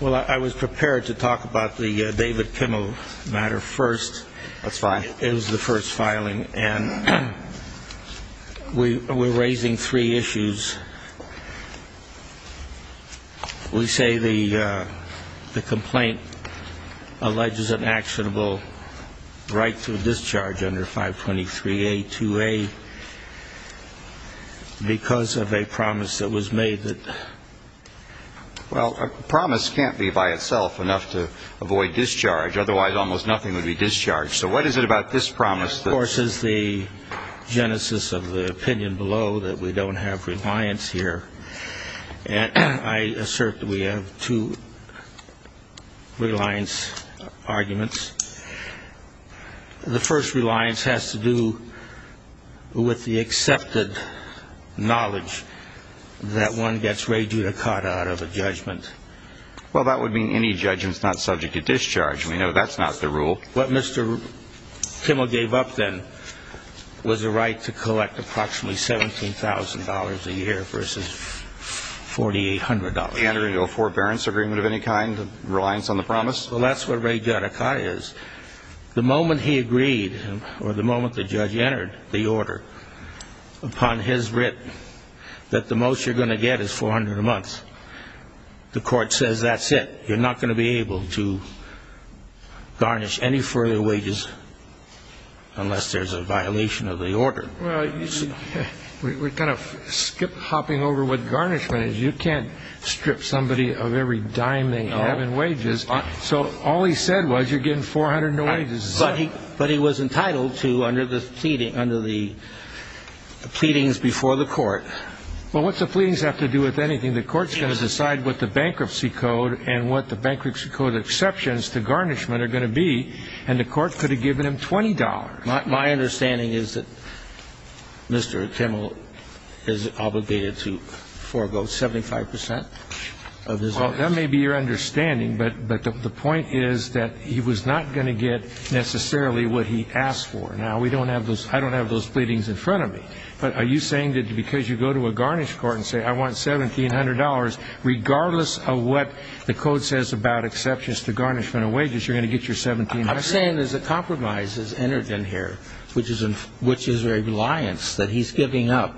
Well, I was prepared to talk about the David Kimmel matter first. That's fine. It was the first filing, and we're raising three issues. We say the complaint alleges an actionable right to discharge under 523A2A because of a promise that was made that, well, a promise can't be by itself enough to avoid discharge. Otherwise, almost nothing would be discharged. So what is it about this promise? Of course, it's the genesis of the opinion below that we don't have reliance here. I assert that we have two reliance arguments. The first reliance has to do with the accepted knowledge that one gets rejudicata out of a judgment. Well, that would mean any judgment is not subject to discharge. We know that's not the rule. What Mr. Kimmel gave up then was a right to collect approximately $17,000 a year versus $4,800. And are you a forbearance agreement of any kind, reliance on the promise? Well, that's what rejudicata is. The moment he agreed or the moment the judge entered the order, upon his writ that the most you're going to get is $400 a month, the court says that's it. You're not going to be able to garnish any further wages unless there's a violation of the order. Well, we're kind of skip-hopping over what garnishment is. You can't strip somebody of every dime they have in wages. So all he said was you're getting $400 a month. But he was entitled to under the pleading, under the pleadings before the court. Well, what's the pleadings have to do with anything? The court's going to decide what the bankruptcy code and what the bankruptcy code exceptions to garnishment are going to be. And the court could have given him $20. My understanding is that Mr. Kimmel is obligated to forego 75 percent of his earnings. Well, that may be your understanding, but the point is that he was not going to get necessarily what he asked for. Now, we don't have those ñ I don't have those pleadings in front of me. But are you saying that because you go to a garnish court and say I want $1,700, regardless of what the code says about exceptions to garnishment of wages, you're going to get your $1,700? I'm saying there's a compromise that's entered in here, which is a reliance that he's giving up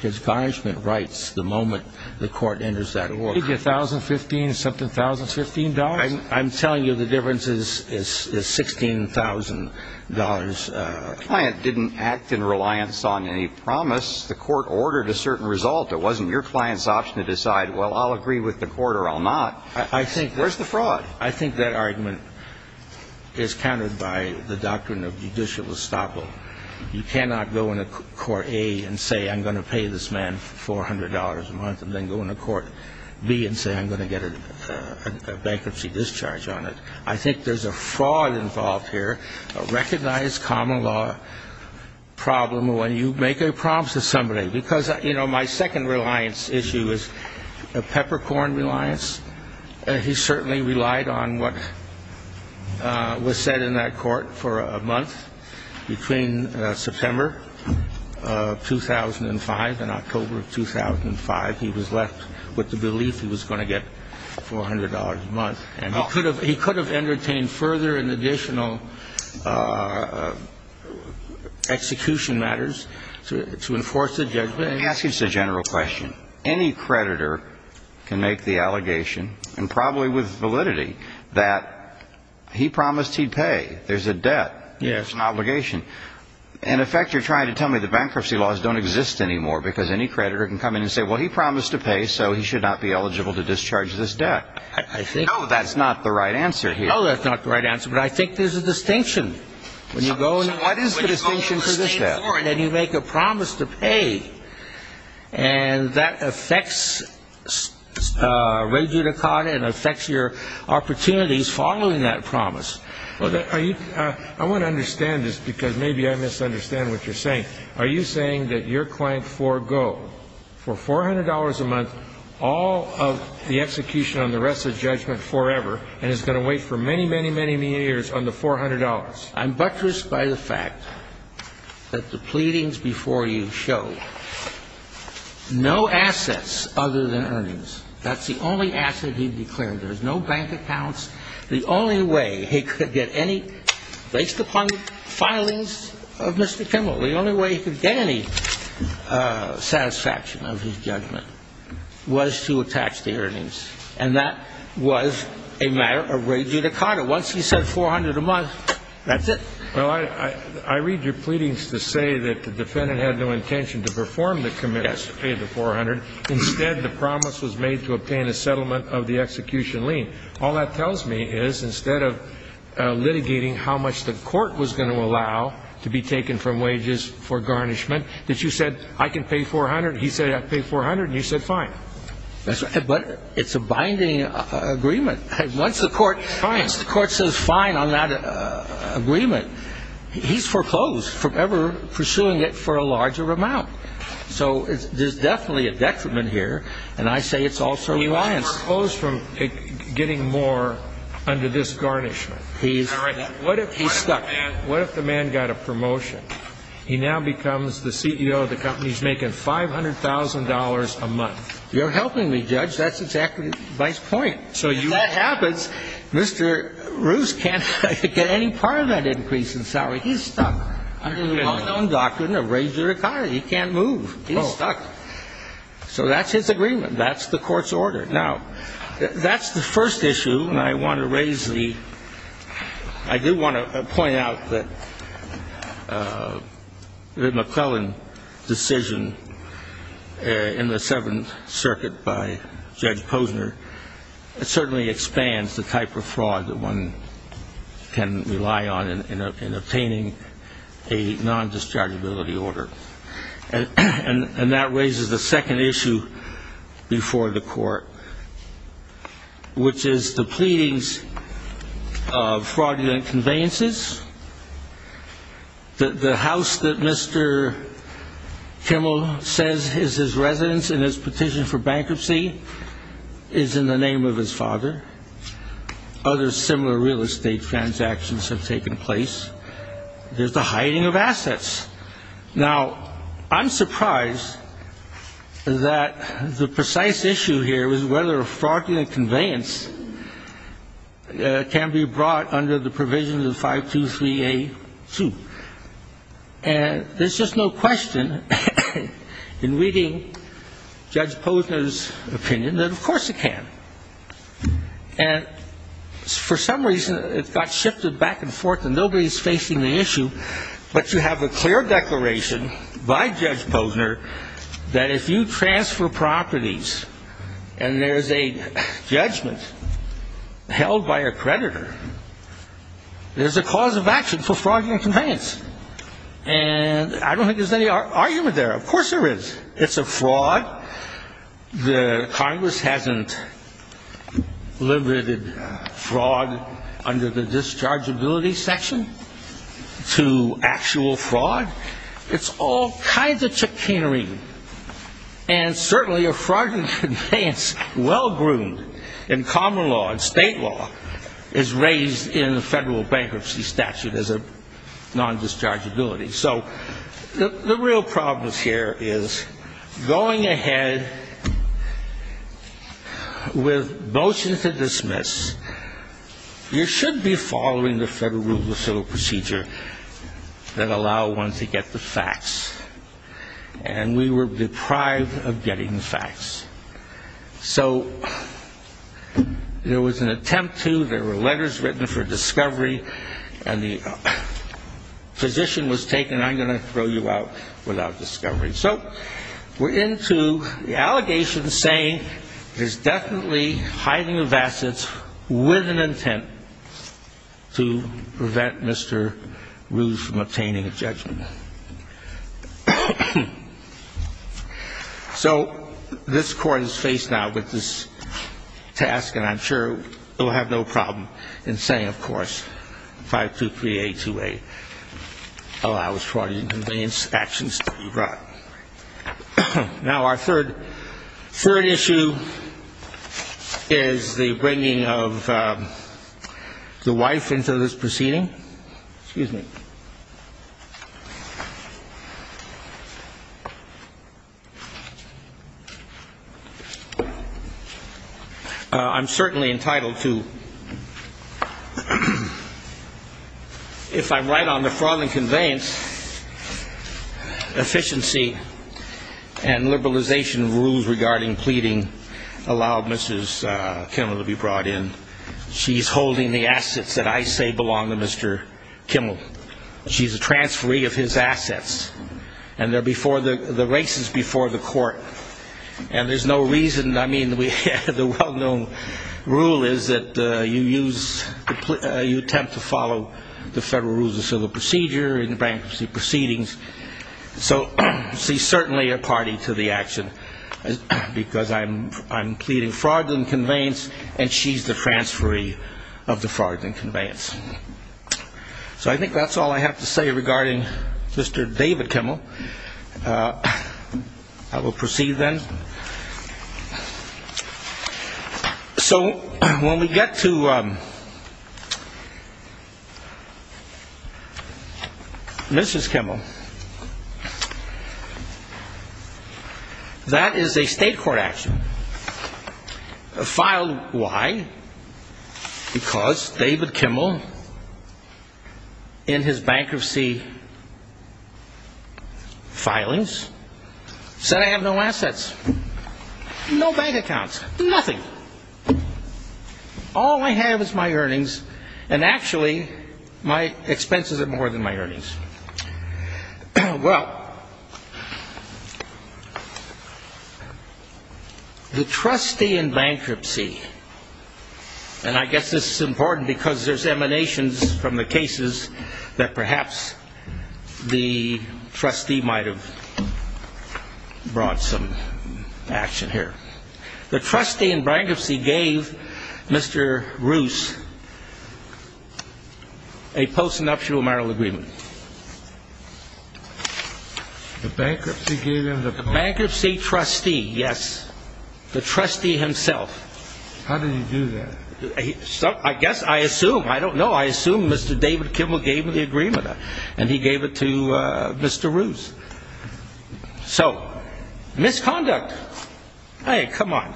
his garnishment rights the moment the court enters that order. Did you get $1,015, something, $1,015? I'm telling you the difference is $16,000. The client didn't act in reliance on any promise. The court ordered a certain result. It wasn't your client's option to decide, well, I'll agree with the court or I'll not. Where's the fraud? I think that argument is countered by the doctrine of judicial estoppel. You cannot go into court A and say I'm going to pay this man $400 a month and then go into court B and say I'm going to get a bankruptcy discharge on it. I think there's a fraud involved here, a recognized common law problem when you make a promise to somebody. Because, you know, my second reliance issue is a peppercorn reliance. He certainly relied on what was said in that court for a month. Between September 2005 and October of 2005, he was left with the belief he was going to get $400 a month. And he could have entertained further and additional execution matters to enforce the judgment. Let me ask you just a general question. Any creditor can make the allegation, and probably with validity, that he promised he'd pay. There's a debt. There's an obligation. In effect, you're trying to tell me the bankruptcy laws don't exist anymore because any creditor can come in and say, well, he promised to pay, so he should not be eligible to discharge this debt. No, that's not the right answer here. No, that's not the right answer, but I think there's a distinction. When you go in, what is the distinction for this debt? And then you make a promise to pay. And that affects regula con and affects your opportunities following that promise. I want to understand this because maybe I misunderstand what you're saying. Are you saying that your client forego for $400 a month all of the execution on the rest of judgment forever and is going to wait for many, many, many years on the $400? I'm buttressed by the fact that the pleadings before you show no assets other than earnings. That's the only asset he declared. There's no bank accounts. The only way he could get any – based upon the filings of Mr. Kimmel, the only way he could get any satisfaction of his judgment was to attach the earnings. And that was a matter of regula con. Once he said $400 a month, that's it. Well, I read your pleadings to say that the defendant had no intention to perform the commitments to pay the $400. Instead, the promise was made to obtain a settlement of the execution lien. All that tells me is instead of litigating how much the court was going to allow to be taken from wages for garnishment, that you said, I can pay $400, he said, I pay $400, and you said fine. But it's a binding agreement. Once the court says fine on that agreement, he's foreclosed from ever pursuing it for a larger amount. So there's definitely a detriment here, and I say it's also a lien. He's foreclosed from getting more under this garnishment. What if he's stuck? What if the man got a promotion? He now becomes the CEO of the company. He's making $500,000 a month. You're helping me, Judge. That's exactly my point. If that happens, Mr. Roos can't get any part of that increase in salary. He's stuck. Under his own doctrine of regula con. He can't move. He's stuck. So that's his agreement. That's the court's order. Now, that's the first issue. And I want to raise the ñ I do want to point out that the McClellan decision in the Seventh Circuit by Judge Posner certainly expands the type of fraud that one can rely on in obtaining a nondischargeability order. And that raises the second issue before the court, which is the pleadings of fraudulent conveyances. The house that Mr. Kimmel says is his residence in his petition for bankruptcy is in the name of his father. Other similar real estate transactions have taken place. There's the hiding of assets. Now, I'm surprised that the precise issue here is whether a fraudulent conveyance can be brought under the provision of the 523A2. And there's just no question in reading Judge Posner's opinion that, of course, it can. And for some reason, it got shifted back and forth, and nobody's facing the issue. But you have a clear declaration by Judge Posner that if you transfer properties and there's a judgment held by a creditor, there's a cause of action for fraudulent conveyance. And I don't think there's any argument there. It's a fraud. The Congress hasn't limited fraud under the dischargeability section to actual fraud. It's all kinds of chicanery. And certainly a fraudulent conveyance well-groomed in common law and state law is raised in the federal bankruptcy statute as a nondischargeability. So the real problem here is going ahead with motions to dismiss, you should be following the federal rule of civil procedure that allow one to get the facts. And we were deprived of getting the facts. So there was an attempt to. There were letters written for discovery. And the position was taken, I'm going to throw you out without discovery. So we're into the allegations saying there's definitely hiding of assets with an intent to prevent Mr. Ruse from obtaining a judgment. So this Court is faced now with this task, and I'm sure it will have no problem in saying, of course, 523-828, allow fraudulent conveyance actions to be brought. Now our third issue is the bringing of the wife into this proceeding. Excuse me. I'm certainly entitled to, if I'm right on the fraudulent conveyance, efficiency and liberalization rules regarding pleading allow Mrs. Kimmel to be brought in. She's holding the assets that I say belong to Mr. Kimmel. She's a transferee of his assets. And the race is before the court. And there's no reason, I mean, the well-known rule is that you use, you attempt to follow the federal rules of civil procedure and bankruptcy proceedings. So she's certainly a party to the action, because I'm pleading fraudulent conveyance, and she's the transferee of the fraudulent conveyance. So I think that's all I have to say regarding Mr. David Kimmel. I will proceed then. So when we get to Mrs. Kimmel, that is a state court action. Filed why? Because David Kimmel, in his bankruptcy filings, said I have no assets, no bank accounts, nothing. All I have is my earnings, and actually my expenses are more than my earnings. Well, the trustee in bankruptcy, and I guess this is important, because there's emanations from the cases that perhaps the trustee might have brought some action here. The trustee in bankruptcy gave Mr. Roos a post-nuptial marital agreement. The bankruptcy gave him the post? The bankruptcy trustee, yes. The trustee himself. How did he do that? I guess I assume. I don't know. I assume Mr. David Kimmel gave him the agreement, and he gave it to Mr. Roos. So, misconduct. Hey, come on.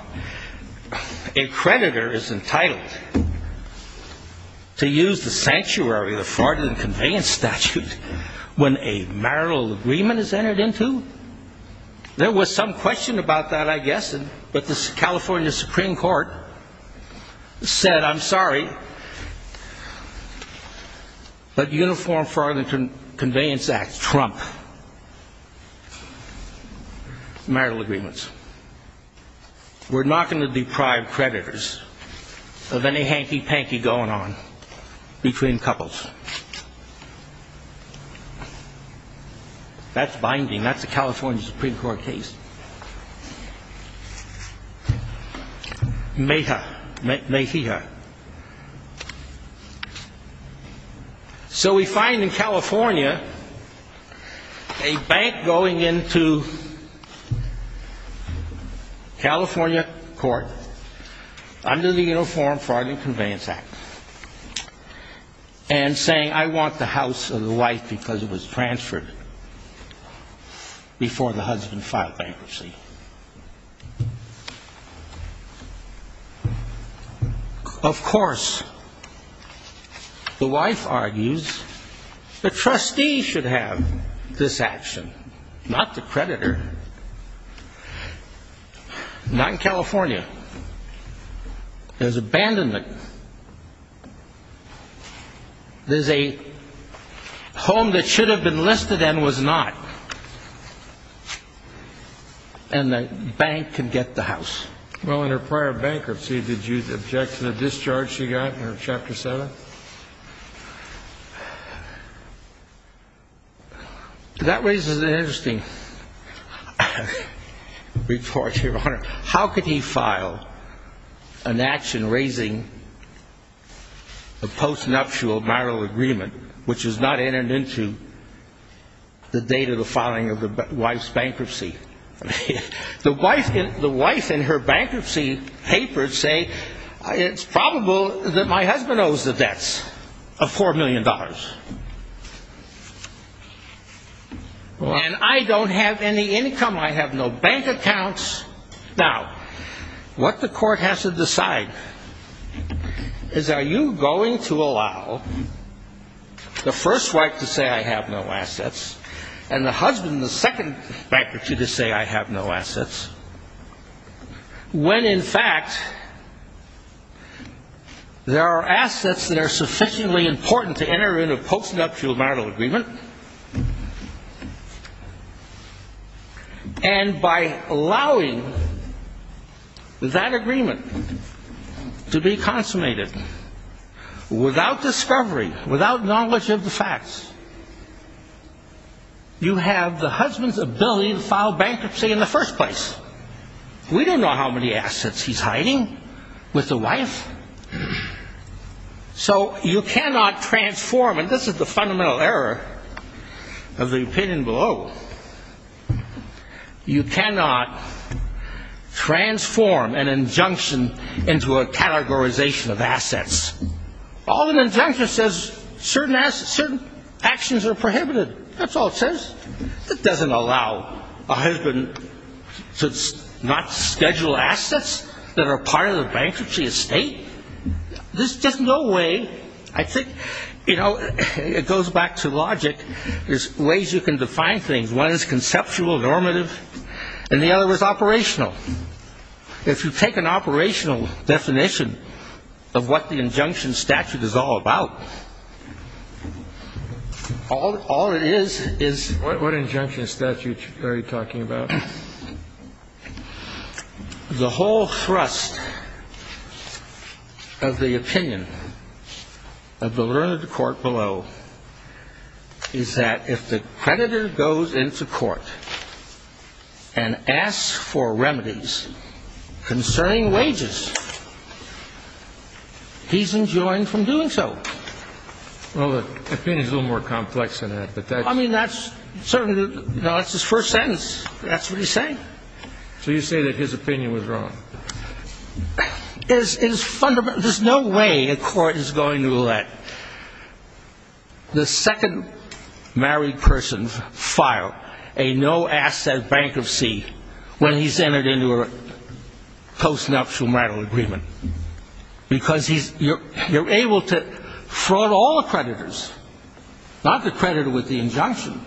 A creditor is entitled to use the sanctuary of the fraudulent conveyance statute when a marital agreement is entered into? There was some question about that, I guess, but the California Supreme Court said I'm sorry, but uniform fraudulent conveyance acts trump marital agreements. We're not going to deprive creditors of any hanky-panky going on between couples. That's binding. That's a California Supreme Court case. Mejia. So we find in California a bank going into California court under the Uniform Fraud and Conveyance Act and saying I want the house of the wife because it was transferred before the husband filed bankruptcy. Of course, the wife argues the trustee should have this action, not the creditor. Not in California. There's abandonment. There's a home that should have been listed and was not, and the bank can get the house. Well, in her prior bankruptcy, did you object to the discharge she got in her Chapter 7? That raises an interesting report, Your Honor. How could he file an action raising a postnuptial marital agreement, which is not entered into the date of the filing of the wife's bankruptcy? The wife in her bankruptcy papers say it's probable that my husband owes the debts of $4 million. And I don't have any income. I have no bank accounts. Now, what the court has to decide is are you going to allow the first wife to say I have no assets and the husband, the second bankruptcy, to say I have no assets, when in fact there are assets that are sufficiently important to enter into a postnuptial marital agreement and by allowing that agreement to be consummated without discovery, without knowledge of the facts, you have the husband's ability to file bankruptcy in the first place. We don't know how many assets he's hiding with the wife. So you cannot transform, and this is the fundamental error of the opinion below, you cannot transform an injunction into a categorization of assets. All an injunction says, certain actions are prohibited. That's all it says. It doesn't allow a husband to not schedule assets that are part of the bankruptcy estate. There's just no way. I think, you know, it goes back to logic. There's ways you can define things. One is conceptual, normative, and the other is operational. If you take an operational definition of what the injunction statute is all about, all it is is what injunction statute are you talking about? The whole thrust of the opinion of the learned court below is that if the creditor goes into court and asks for remedies concerning wages, he's enjoined from doing so. Well, the opinion is a little more complex than that. I mean, that's certainly the first sentence. That's what he's saying. So you say that his opinion was wrong. There's no way a court is going to let the second married person file a no-asset bankruptcy when he's entered into a post-nuptial marital agreement because you're able to fraud all creditors, not the creditor with the injunction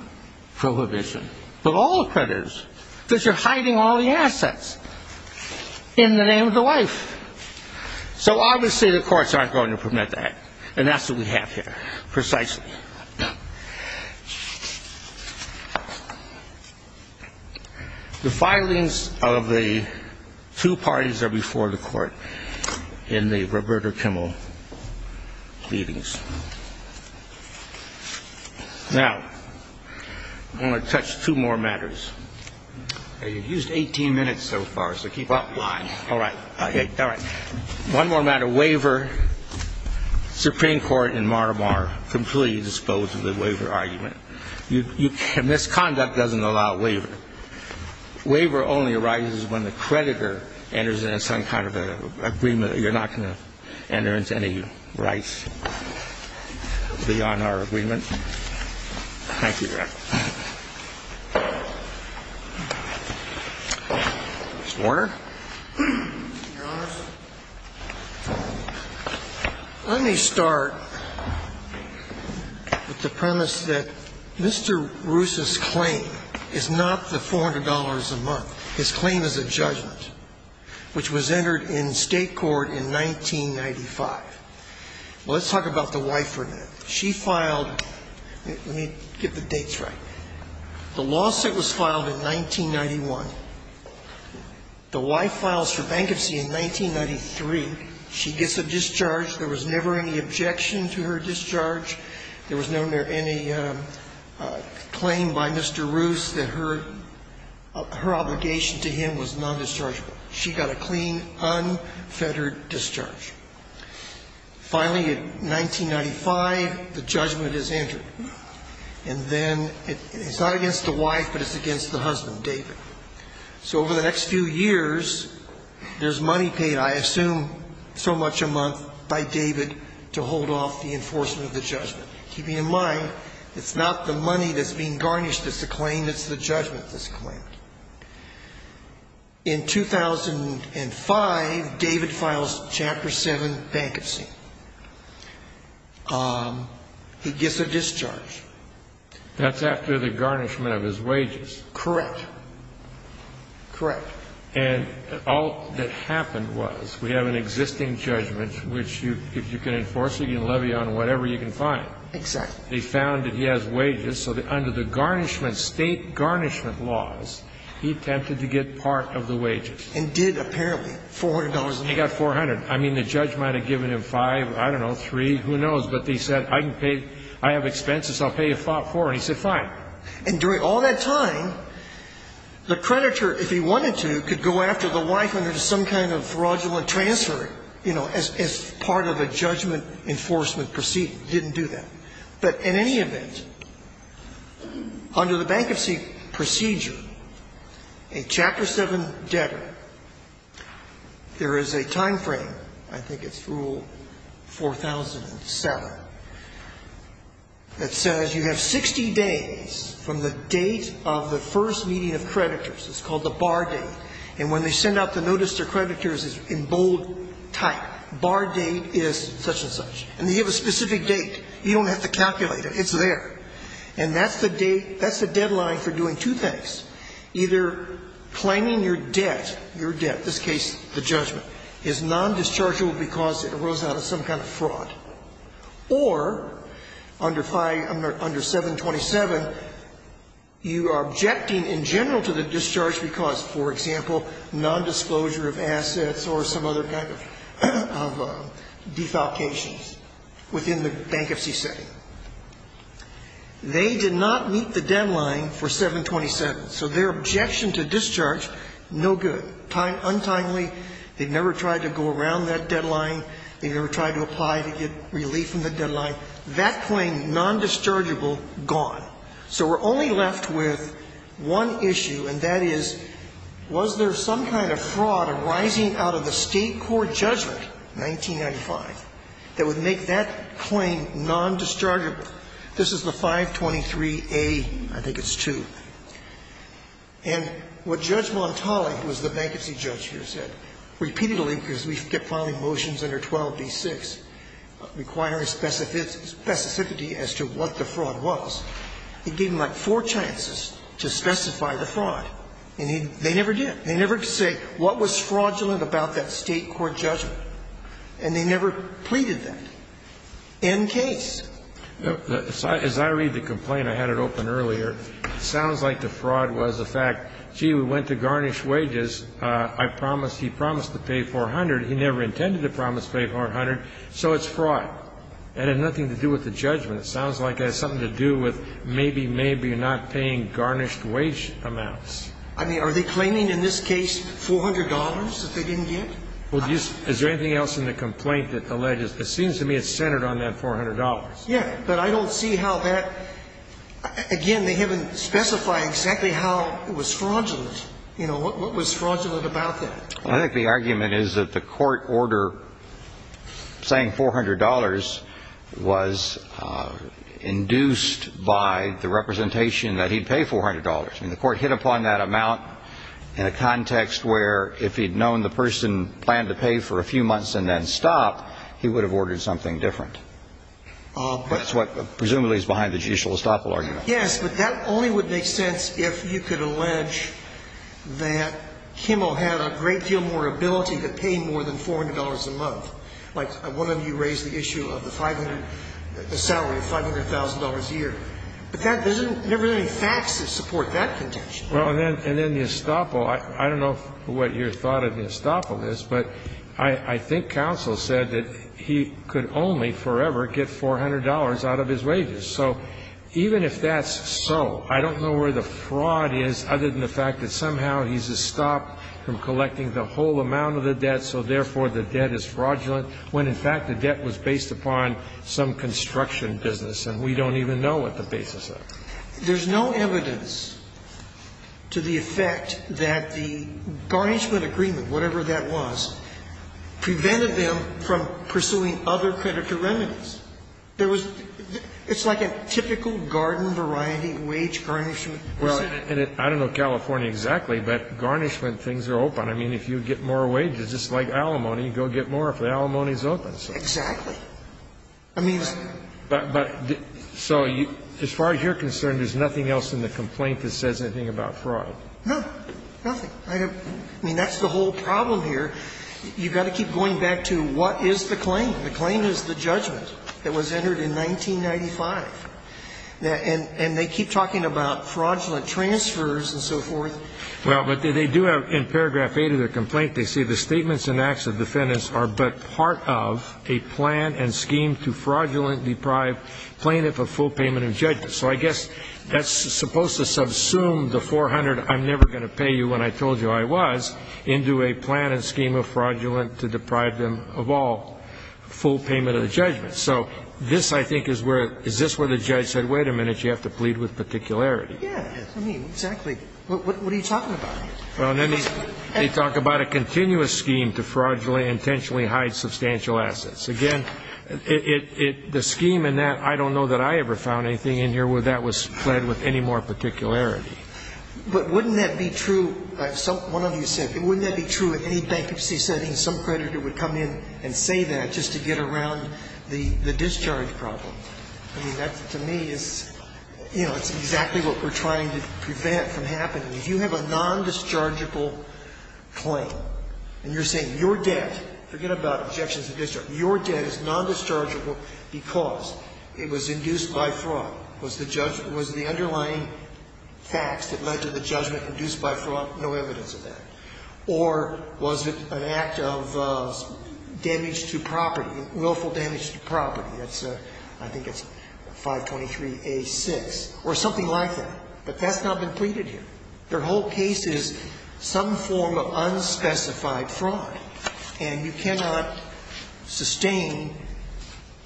prohibition, but all creditors because you're hiding all the assets in the name of the wife. So obviously the courts aren't going to permit that, and that's what we have here precisely. The filings of the two parties are before the court in the Roberta Kimmel pleadings. Now, I want to touch two more matters. You've used 18 minutes so far, so keep up. All right. All right. One more matter, waiver. Supreme Court in Mar-a-Mar completely disposed of the waiver argument. Misconduct doesn't allow waiver. Waiver only arises when the creditor enters into some kind of agreement. You're not going to enter into any rights beyond our agreement. Thank you, Your Honor. Mr. Warner? Your Honors, let me start with the premise that Mr. Roos's claim is not the $400 a month. His claim is a judgment, which was entered in state court in 1995. Let's talk about the waiver now. She filed ñ let me get the dates right. The lawsuit was filed in 1991. The wife files for bankruptcy in 1993. She gets a discharge. There was never any objection to her discharge. There was never any claim by Mr. Roos that her obligation to him was non-dischargeable. She got a clean, unfettered discharge. Finally, in 1995, the judgment is entered. And then it's not against the wife, but it's against the husband, David. So over the next few years, there's money paid, I assume so much a month, by David to hold off the enforcement of the judgment. Keeping in mind, it's not the money that's being garnished that's the claim, it's the judgment that's the claim. In 2005, David files Chapter 7 bankruptcy. He gets a discharge. That's after the garnishment of his wages. Correct. Correct. And all that happened was we have an existing judgment, which if you can enforce it, you can levy on whatever you can find. Exactly. They found that he has wages, so under the state garnishment laws, he attempted to get part of the wages. And did, apparently, $400 a month. He got $400. I mean, the judge might have given him five, I don't know, three, who knows. But he said, I can pay, I have expenses, I'll pay you four. And he said, fine. And during all that time, the creditor, if he wanted to, could go after the wife under some kind of fraudulent transfer, you know, as part of a judgment enforcement proceeding. Didn't do that. But in any event, under the bankruptcy procedure, a Chapter 7 debtor, there is a time frame, I think it's Rule 4007, that says you have 60 days from the date of the first meeting of creditors. It's called the bar date. And when they send out the notice to creditors, it's in bold type. Bar date is such and such. And they have a specific date. You don't have to calculate it. It's there. And that's the date, that's the deadline for doing two things. Either claiming your debt, your debt, in this case the judgment, is nondischargeable because it arose out of some kind of fraud. Or under 5 under 727, you are objecting in general to the discharge because, for example, nondisclosure of assets or some other kind of defalcations within the bankruptcy setting. They did not meet the deadline for 727. So their objection to discharge, no good. Untimely, they never tried to go around that deadline. They never tried to apply to get relief from the deadline. That claim, nondischargeable, gone. So we're only left with one issue, and that is, was there some kind of fraud arising out of the State court judgment in 1995 that would make that claim nondischargeable? This is the 523A, I think it's 2. And what Judge Montali, who was the bankruptcy judge here, said, repeatedly, because we kept filing motions under 12d6 requiring specificity as to what the fraud was, he gave them like four chances to specify the fraud. And they never did. They never could say what was fraudulent about that State court judgment. And they never pleaded that. End case. Kennedy. As I read the complaint, I had it open earlier, it sounds like the fraud was the fact, gee, we went to garnish wages. I promised he promised to pay 400. He never intended to promise to pay 400. So it's fraud. It had nothing to do with the judgment. It sounds like it has something to do with maybe, maybe not paying garnished wage amounts. I mean, are they claiming in this case $400 that they didn't get? Is there anything else in the complaint that alleges? It seems to me it's centered on that $400. Yes. But I don't see how that, again, they haven't specified exactly how it was fraudulent. You know, what was fraudulent about that? I think the argument is that the court order saying $400 was induced by the representation that he'd pay $400. I mean, the court hit upon that amount in a context where if he'd known the person planned to pay for a few months and then stop, he would have ordered something different. But that's what presumably is behind the judicial estoppel argument. Yes. But that only would make sense if you could allege that Kimmel had a great deal more ability to pay more than $400 a month. Like one of you raised the issue of the 500, the salary of $500,000 a year. But that doesn't, there aren't any facts that support that contention. Well, and then the estoppel, I don't know what your thought of the estoppel is, but I think counsel said that he could only forever get $400 out of his wages. So even if that's so, I don't know where the fraud is other than the fact that somehow he's estopped from collecting the whole amount of the debt, so therefore the debt is fraudulent, when in fact the debt was based upon some construction business and we don't even know what the basis of it is. There's no evidence to the effect that the barnishment agreement, whatever that was, prevented them from pursuing other creditor remedies. There was, it's like a typical garden variety wage garnishment. Well, and I don't know California exactly, but garnishment things are open. I mean, if you get more wages, just like alimony, you go get more if the alimony is open. Exactly. I mean, it's. But, but, so as far as you're concerned, there's nothing else in the complaint that says anything about fraud? No, nothing. I mean, that's the whole problem here. You've got to keep going back to what is the claim. The claim is the judgment. That was entered in 1995. And they keep talking about fraudulent transfers and so forth. Well, but they do have, in paragraph 8 of the complaint, they say the statements and acts of defendants are but part of a plan and scheme to fraudulent deprive plaintiff of full payment of judgment. So I guess that's supposed to subsume the 400 I'm never going to pay you when I told you I was into a plan and scheme of fraudulent to deprive them of all full payment of the judgment. So this, I think, is where, is this where the judge said, wait a minute, you have to plead with particularity. Yeah. I mean, exactly. What are you talking about? Well, I mean, they talk about a continuous scheme to fraudulently intentionally hide substantial assets. Again, it, it, the scheme in that, I don't know that I ever found anything in here where that was pled with any more particularity. But wouldn't that be true, one of you said, wouldn't that be true in any bankruptcy setting, some creditor would come in and say that just to get around the, the discharge problem? I mean, that, to me, is, you know, it's exactly what we're trying to prevent from happening. If you have a nondischargeable claim and you're saying your debt, forget about objections to discharge, your debt is nondischargeable because it was induced by fraud. Was the judgment, was the underlying facts that led to the judgment induced by fraud? No evidence of that. Underlying facts are not clear enough to know what the minutiae was. Was it injury to the asset is created by fraud, or was it an act of damage to property, willful damage to property, I think it's 523a6, or something like that. But that's not been pleaded here. Their whole case is some form of unspecified fraud. And you cannot sustain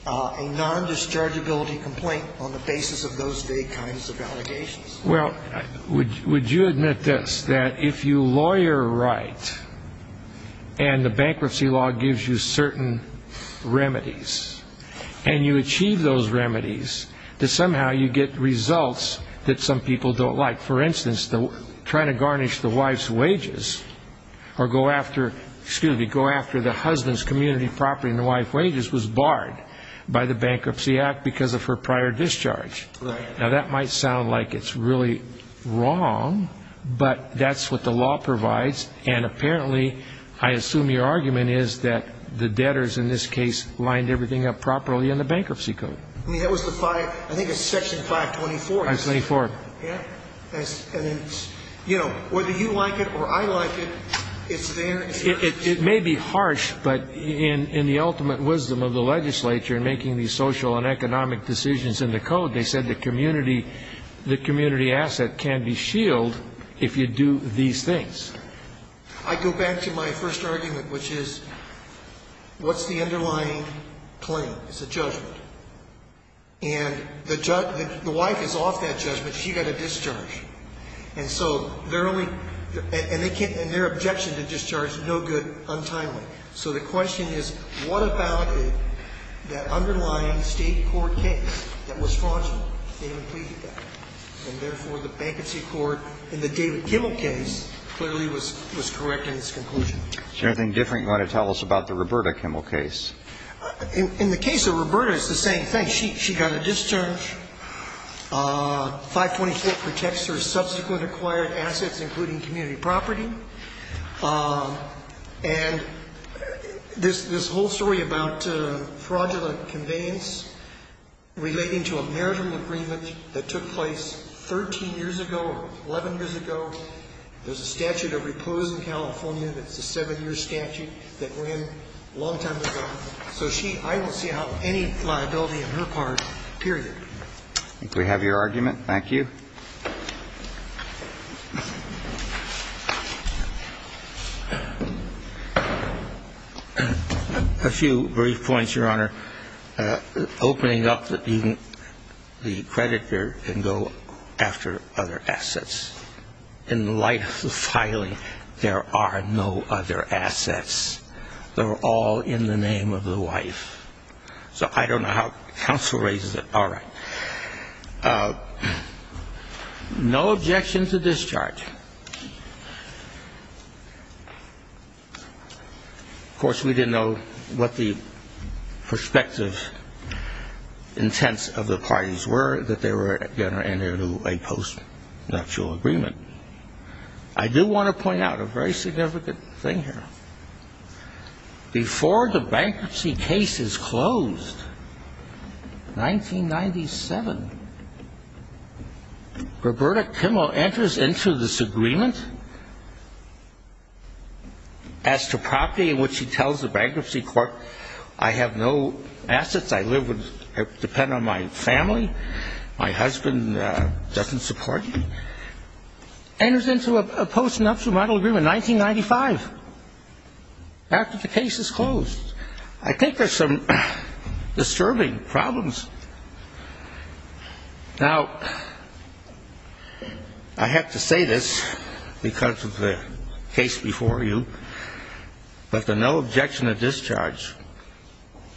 a nondischargeability complaint on the basis of those vague kinds of allegations. Well, would you admit this, that if you lawyer right and the bankruptcy law gives you certain remedies and you achieve those remedies, that somehow you get results that some people don't like? Well, for instance, trying to garnish the wife's wages or go after the husband's community property and the wife's wages was barred by the Bankruptcy Act because of her prior discharge. Now, that might sound like it's really wrong, but that's what the law provides. And apparently, I assume your argument is that the debtors in this case lined everything up properly in the bankruptcy code. I mean, that was the five, I think it's section 524. 524. Yeah. And then, you know, whether you like it or I like it, it's there. It may be harsh, but in the ultimate wisdom of the legislature in making these social and economic decisions in the code, they said the community asset can be shielded if you do these things. I go back to my first argument, which is what's the underlying claim? It's a judgment. And the wife is off that judgment. She got a discharge. And so they're only – and their objection to discharge, no good, untimely. So the question is what about that underlying state court case that was fraudulent? They didn't plead with that. And therefore, the bankruptcy court in the David Kimmel case clearly was correct in its conclusion. Is there anything different you want to tell us about the Roberta Kimmel case? In the case of Roberta, it's the same thing. She got a discharge. 524 protects her subsequent acquired assets, including community property. And this whole story about fraudulent conveyance relating to a marital agreement that took place 13 years ago or 11 years ago, there's a statute of repose in California that's a seven-year statute that ran a long time ago. So she – I don't see how any liability on her part, period. If we have your argument, thank you. A few brief points, Your Honor. Opening up the creditor can go after other assets. In the light of the filing, there are no other assets. They're all in the name of the wife. So I don't know how counsel raises it. All right. No objection to discharge. Of course, we didn't know what the prospective intents of the parties were, that they were going to enter into a post-nuptial agreement. I do want to point out a very significant thing here. Before the bankruptcy case is closed, 1997, Roberta Kimmel enters into this agreement as to property in which she tells the bankruptcy court, I have no assets. I live with – depend on my family. My husband doesn't support me. Enters into a post-nuptial model agreement in 1995 after the case is closed. I think there's some disturbing problems. Now, I have to say this because of the case before you, but the no objection to discharge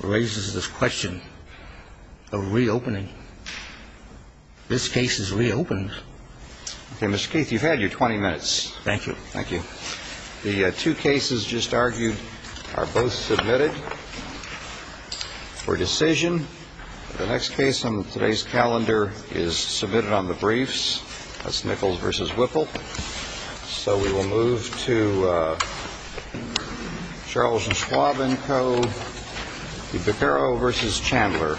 raises this question of reopening. This case is reopened. Okay, Mr. Keith, you've had your 20 minutes. Thank you. Thank you. The two cases just argued are both submitted for decision. The next case on today's calendar is submitted on the briefs. That's Nichols v. Whipple. So we will move to Charles and Schwabenko v. Beccaro v. Chandler.